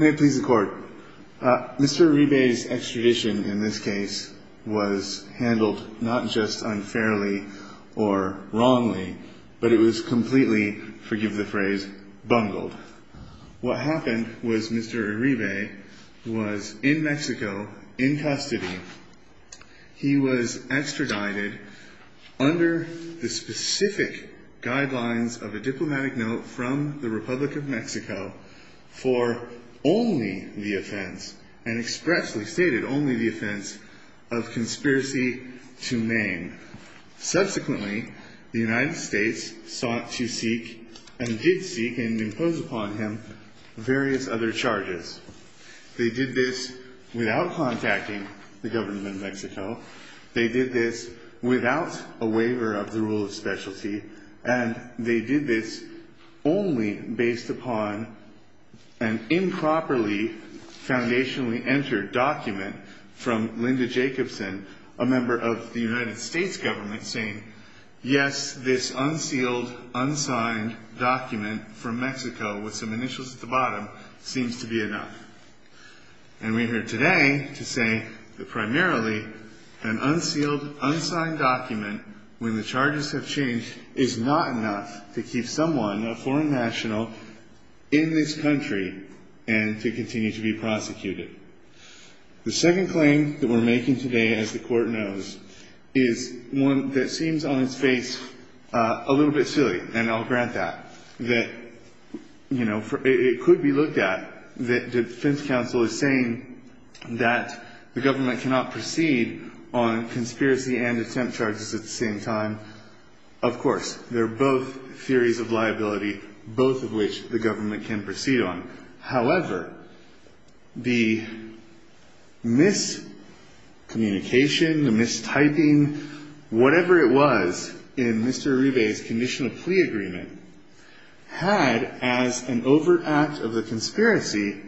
May it please the court. Mr. Iribe's extradition in this case was handled not just unfairly or wrongly, but it was completely, forgive the phrase, bungled. What happened was Mr. Iribe was in Mexico in custody. He was extradited under the specific guidelines of a diplomatic note from the Republic of Mexico for only the offense and expressly stated only the offense of conspiracy to name. Subsequently, the United States sought to seek and did seek and impose upon him various other charges. They did this without contacting the government of Mexico. They did this without a waiver of the rule of specialty. And they did this only based upon an improperly foundationally entered document from Linda Jacobson, a member of the United States government saying, yes, this unsealed, unsigned document from Mexico with some initials at the bottom when the charges have changed is not enough to keep someone, a foreign national, in this country and to continue to be prosecuted. The second claim that we're making today, as the court knows, is one that seems on its face a little bit silly, and I'll grant that, that, you know, it could be looked at that defense counsel is saying that the government cannot proceed on conspiracy and attempt charges at the same time. Of course, they're both theories of liability, both of which the government can proceed on. However, the miscommunication, the mistyping, whatever it was in Mr. Uribe's conditional plea agreement had as an overact of the conspiracy,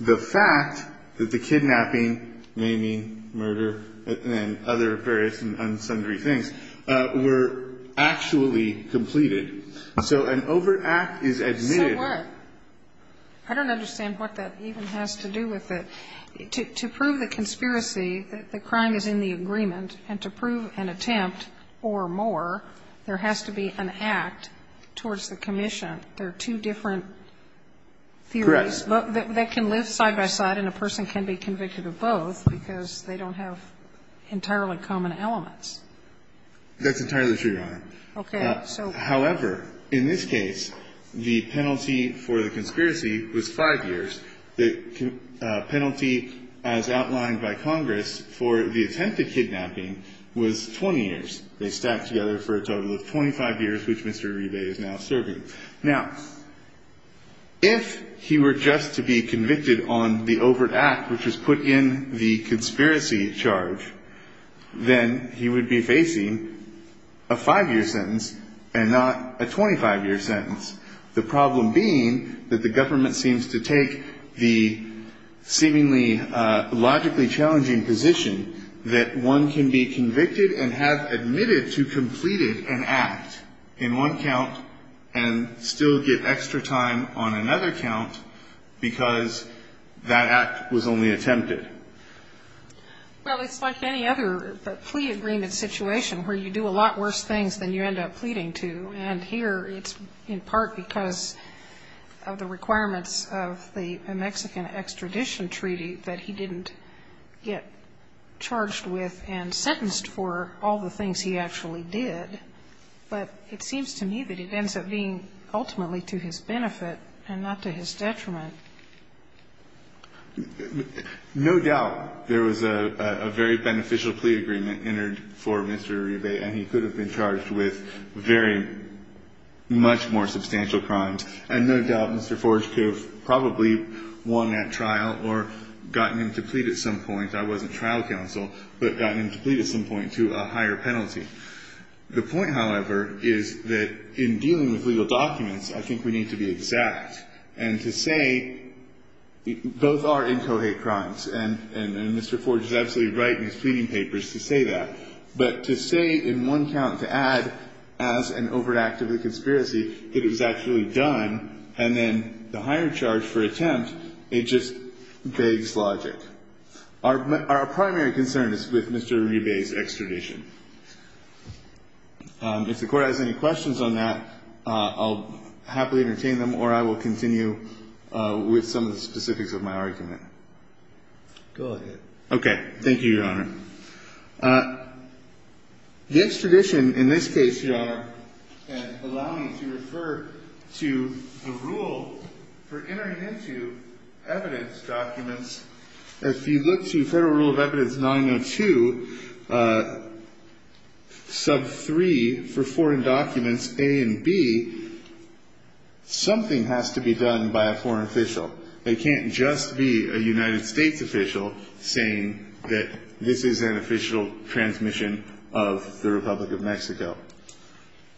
the fact that the kidnapping, maiming, murder, and other various and unsundry things were actually completed. So an overact is admitted. So what? I don't understand what that even has to do with it. To prove the conspiracy, the crime is in the agreement, and to prove an attempt or more, there has to be an act towards the commission. There are two different theories. Correct. They can live side by side and a person can be convicted of both because they don't have entirely common elements. That's entirely true, Your Honor. Okay. However, in this case, the penalty for the conspiracy was 5 years. The penalty, as outlined by Congress, for the attempt at kidnapping was 20 years. They stacked together for a total of 25 years, which Mr. Uribe is now serving. Now, if he were just to be convicted on the overt act, which was put in the conspiracy charge, then he would be facing a 5-year sentence and not a 25-year sentence. The problem being that the government seems to take the seemingly logically challenging position that one can be convicted and have admitted to completed an act in one count and still get extra time on another count because that act was only attempted. Well, it's like any other plea agreement situation where you do a lot worse things than you end up pleading to. And here, it's in part because of the requirements of the Mexican Extradition Treaty that he didn't get charged with and sentenced for all the things he actually did. But it seems to me that it ends up being ultimately to his benefit and not to his detriment. No doubt there was a very beneficial plea agreement entered for Mr. Uribe, and he could have been charged with very much more substantial crimes. And no doubt Mr. Forge could have probably won that trial or gotten him to plead at some point. I wasn't trial counsel, but got him to plead at some point to a higher penalty. The point, however, is that in dealing with legal documents, I think we need to be exact and to say both are incohate crimes. And Mr. Forge is absolutely right in his pleading papers to say that, but to say in one count, to add, as an overt act of the conspiracy, it was actually done, and then the higher charge for attempt, it just begs logic. Our primary concern is with Mr. Uribe's extradition. If the Court has any questions on that, I'll happily entertain them, or I will continue with some of the specifics of my argument. Go ahead. Okay. Thank you, Your Honor. Extradition, in this case, Your Honor, and allow me to refer to the rule for entering into evidence documents, if you look to Federal Rule of Evidence 902, sub 3 for foreign documents, A and B, something has to be done by a foreign official. It can't just be a United States official saying that this is an official transmission of the Republic of Mexico.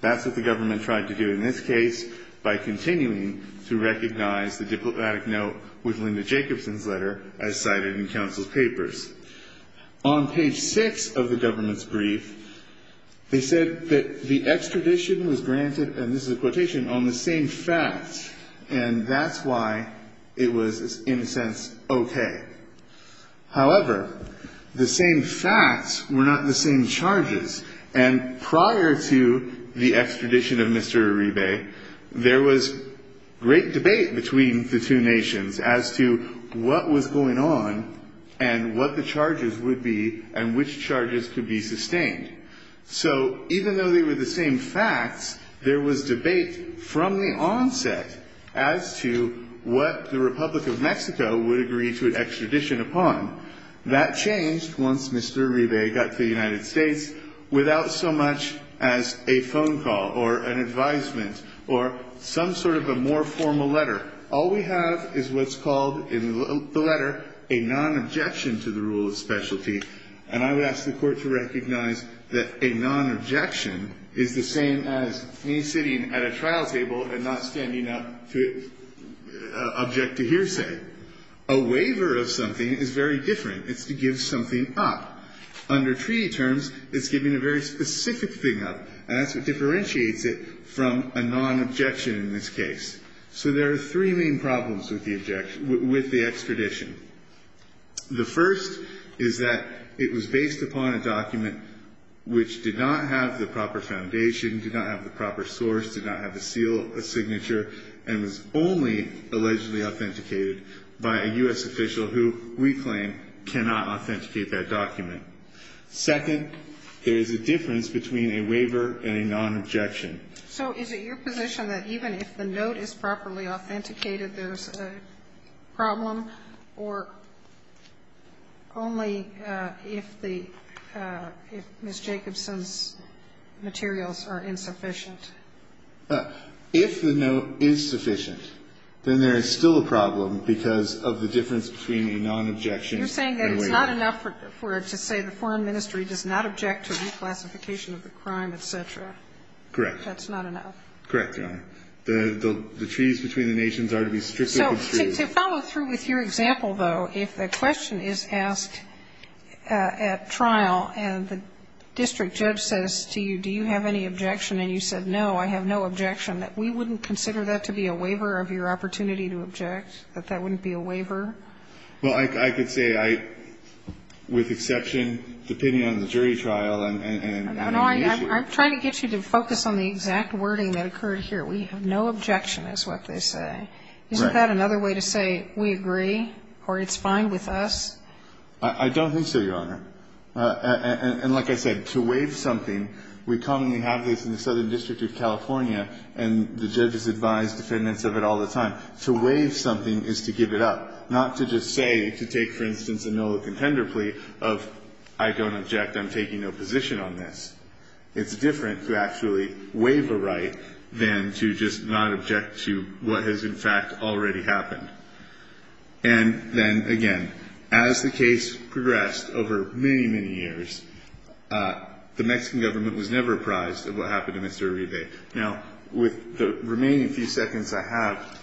That's what the government tried to do in this case by continuing to recognize the diplomatic note with Linda Jacobson's letter as cited in counsel's papers. On page 6 of the government's brief, they said that the extradition was granted, and it was, in a sense, okay. However, the same facts were not the same charges. And prior to the extradition of Mr. Uribe, there was great debate between the two nations as to what was going on and what the charges would be and which charges could be sustained. So even though they were the same facts, there was debate from the onset as to what the right of the Republic of Mexico would agree to an extradition upon. That changed once Mr. Uribe got to the United States without so much as a phone call or an advisement or some sort of a more formal letter. All we have is what's called in the letter a non-objection to the rule of specialty. And I would ask the Court to recognize that a non-objection is the same as me sitting at a trial table and not standing up to object to hearsay. A waiver of something is very different. It's to give something up. Under treaty terms, it's giving a very specific thing up, and that's what differentiates it from a non-objection in this case. So there are three main problems with the extradition. The first is that it was based upon a document which did not have the proper foundation, did not have the proper source, did not have the seal, a signature, and was only allegedly authenticated by a U.S. official who we claim cannot authenticate that document. Second, there is a difference between a waiver and a non-objection. So is it your position that even if the note is properly authenticated, there's a problem? Or only if the Ms. Jacobson's materials are insufficient? If the note is sufficient, then there is still a problem because of the difference between a non-objection and a waiver. You're saying that it's not enough for it to say the Foreign Ministry does not object to reclassification of the crime, et cetera? Correct. That's not enough? Correct, Your Honor. The treaties between the nations are to be stricter than treaties. To follow through with your example, though, if the question is asked at trial and the district judge says to you, do you have any objection, and you said, no, I have no objection, that we wouldn't consider that to be a waiver of your opportunity to object, that that wouldn't be a waiver? Well, I could say I, with exception, depending on the jury trial and the issue. I'm trying to get you to focus on the exact wording that occurred here. We have no objection is what they say. Right. Is that another way to say we agree or it's fine with us? I don't think so, Your Honor. And like I said, to waive something, we commonly have this in the Southern District of California, and the judges advise defendants of it all the time. To waive something is to give it up, not to just say, to take, for instance, a Millicent Hender plea of I don't object, I'm taking no position on this. It's different to actually waive a right than to just not object to what has, in fact, already happened. And then, again, as the case progressed over many, many years, the Mexican government was never apprised of what happened to Mr. Uribe. Now, with the remaining few seconds I have,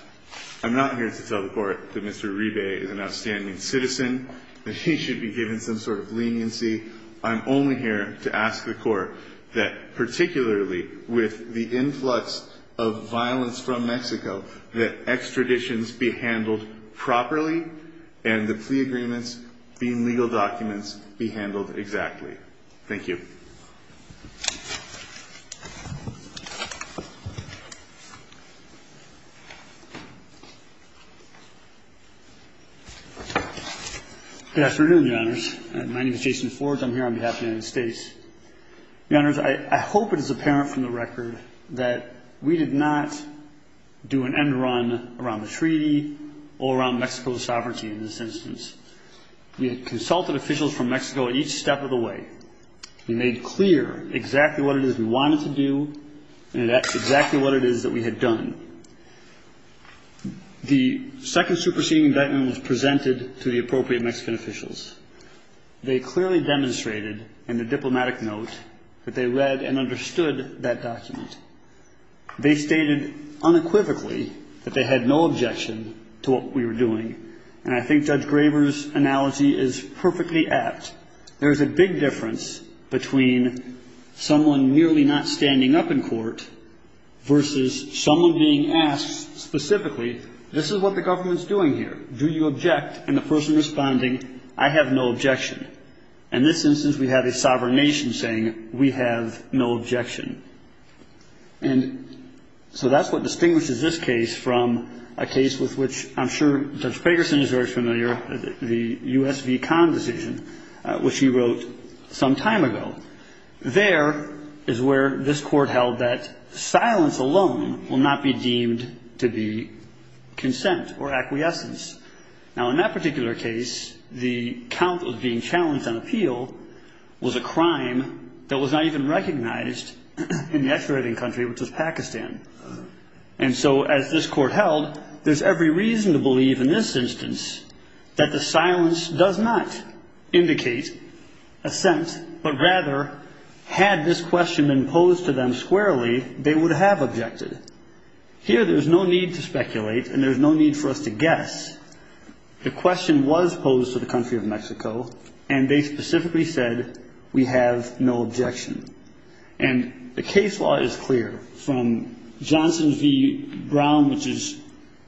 I'm not here to tell the Court that Mr. Uribe is an outstanding citizen, that he should be given some sort of leniency. I'm only here to ask the Court that, particularly with the influx of violence from Mexico, that extraditions be handled properly and the plea agreements, the legal documents, be handled exactly. Thank you. Good afternoon, Your Honors. My name is Jason Forge. I'm here on behalf of the United States. Your Honors, I hope it is apparent from the record that we did not do an end run around the treaty or around Mexico's sovereignty in this instance. We had consulted officials from Mexico at each step of the way. We made clear exactly what it is we wanted to do and exactly what it is that we had done. The second superseding indictment was presented to the appropriate Mexican officials. They clearly demonstrated in the diplomatic note that they read and understood that document. They stated unequivocally that they had no objection to what we were doing, and I think Judge Graber's analogy is perfectly apt. There's a big difference between someone merely not standing up in court versus someone being asked specifically, this is what the government's doing here. Do you object? And the person responding, I have no objection. In this instance, we have a sovereign nation saying, we have no objection. And so that's what distinguishes this case from a case with which I'm sure Judge Ferguson is very familiar, the US v. Conn decision, which he wrote some time ago. There is where this court held that silence alone will not be deemed to be consent or acquiescence. Now, in that particular case, the count was being challenged on appeal was a crime that was not even recognized in the X rating country, which was Pakistan. And so as this court held, there's every reason to believe in this instance that the silence does not indicate assent, but rather had this question been posed to them squarely, they would have objected. Here, there's no need to speculate, and there's no need for us to guess. The question was posed to the country of Mexico, and they specifically said, we have no objection. And the case law is clear, from Johnson v. Brown, which is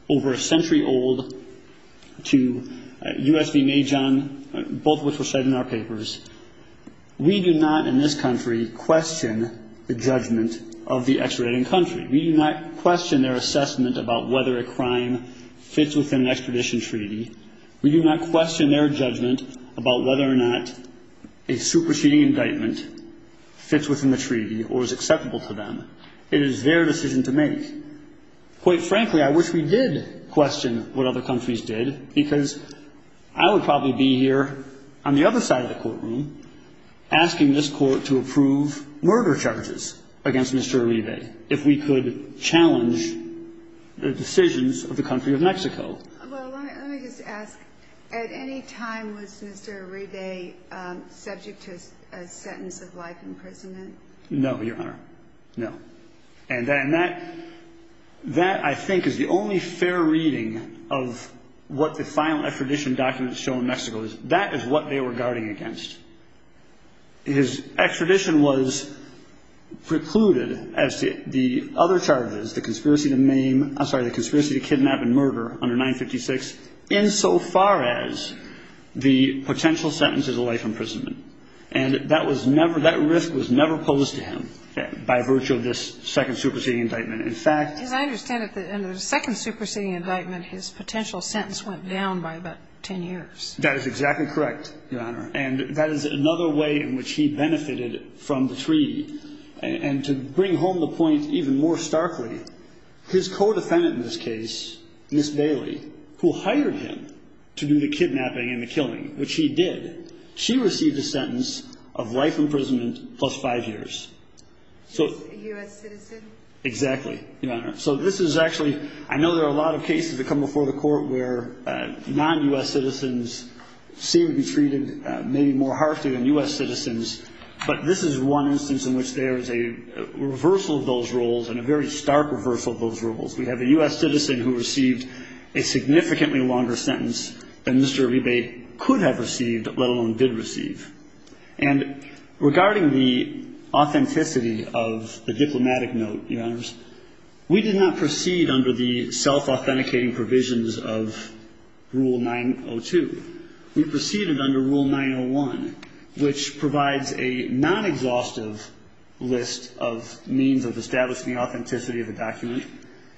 over a century old, to US v. Majan, both of which were said in our papers. We do not in this country question the judgment of the X rating country. We do not question their assessment about whether a crime fits within an extradition treaty. We do not question their judgment about whether or not a superseding indictment fits within the treaty or is acceptable to them. It is their decision to make. Quite frankly, I wish we did question what other countries did, because I would probably be here on the other side of the courtroom asking this court to approve murder charges against Mr. Rive, which would challenge the decisions of the country of Mexico. Well, let me just ask, at any time was Mr. Rive subject to a sentence of life imprisonment? No, Your Honor, no. And that, I think, is the only fair reading of what the final extradition documents show in Mexico. That is what they were guarding against. His extradition was precluded, as the other charges, the conspiracy to maim, I'm sorry, the conspiracy to kidnap and murder under 956, insofar as the potential sentence is a life imprisonment. And that was never, that risk was never posed to him by virtue of this second superseding indictment. In fact... As I understand it, in the second superseding indictment, his potential sentence went down by about 10 years. That is exactly correct, Your Honor. And that is another way in which he benefited from the treaty. And to bring home the point even more starkly, his co-defendant in this case, Ms. Bailey, who hired him to do the kidnapping and the killing, which he did, she received a sentence of life imprisonment plus five years. She's a U.S. citizen? Exactly, Your Honor. So this is actually, I know there are a lot of cases that come before the court where non-U.S. citizens seem to be treated maybe more harshly than U.S. citizens, but this is one instance in which there is a reversal of those rules, and a very stark reversal of those rules. We have a U.S. citizen who received a significantly longer sentence than Mr. Ebate could have received, let alone did receive. And regarding the authenticity of the diplomatic note, Your Honors, we did not proceed under the self-authenticating provisions of Rule 902. We proceeded under Rule 901, which provides a non-exhaustive list of means of establishing the authenticity of the document.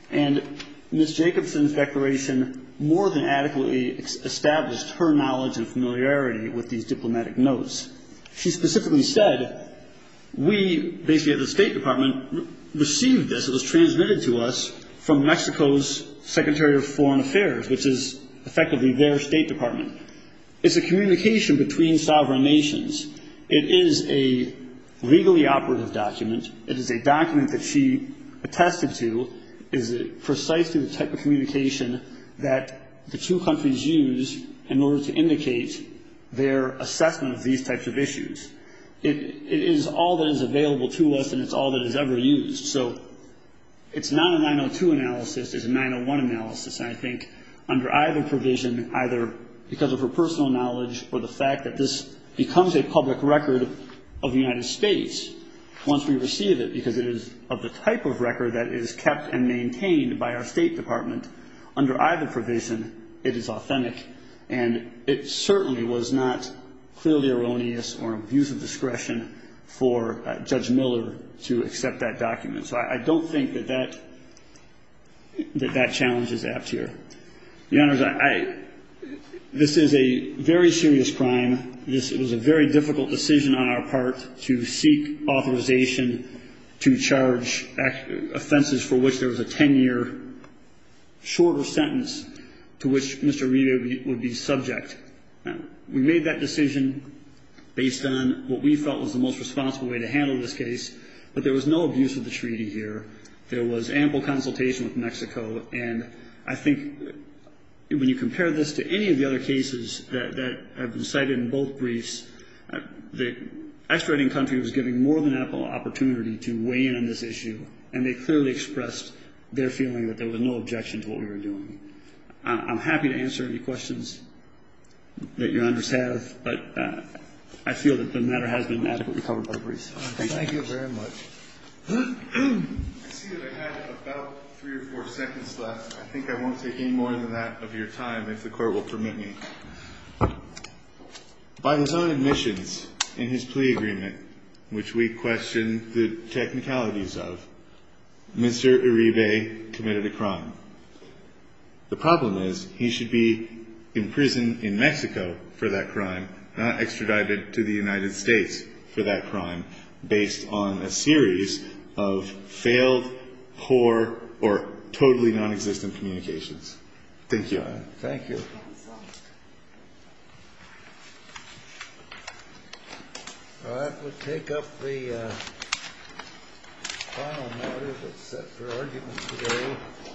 And Ms. Jacobson's declaration more than adequately established her knowledge and familiarity with these diplomatic notes. She specifically said, we, basically at the State Department, received this. It was transmitted to us from Mexico's Secretary of Foreign Affairs, which is effectively their State Department. It's a communication between sovereign nations. It is a legally operative document. It is a document that she attested to is precisely the type of communication that the two countries use in order to indicate their assessment of these types of issues. It is all that is available to us, and it's all that is ever used. So it's not a 902 analysis, it's a 901 analysis. And I think under either provision, either because of her personal knowledge or the fact that this becomes a public record of the United States once we receive it. Because it is of the type of record that is kept and under either provision, it is authentic. And it certainly was not clearly erroneous or abuse of discretion for Judge Miller to accept that document. So I don't think that that challenge is apt here. The honors, this is a very serious crime. This was a very difficult decision on our part to seek authorization to charge offenses for which there was a ten year shorter sentence to which Mr. Riva would be subject. We made that decision based on what we felt was the most responsible way to handle this case. But there was no abuse of the treaty here. There was ample consultation with Mexico. And I think when you compare this to any of the other cases that have been cited in both briefs, the extraditing country was given more than ample opportunity to weigh in on this issue. And they clearly expressed their feeling that there was no objection to what we were doing. I'm happy to answer any questions that your honors have. But I feel that the matter has been adequately covered by the briefs. Thank you very much. I see that I have about three or four seconds left. I think I won't take any more than that of your time if the court will permit me. By his own admissions in his plea agreement, which we question the technicalities of, Mr. Uribe committed a crime. The problem is he should be in prison in Mexico for that crime, not extradited to the United States for that crime. Based on a series of failed, poor, or totally non-existent communications. Thank you. Thank you. All right, we'll take up the final matter that's set for argument today.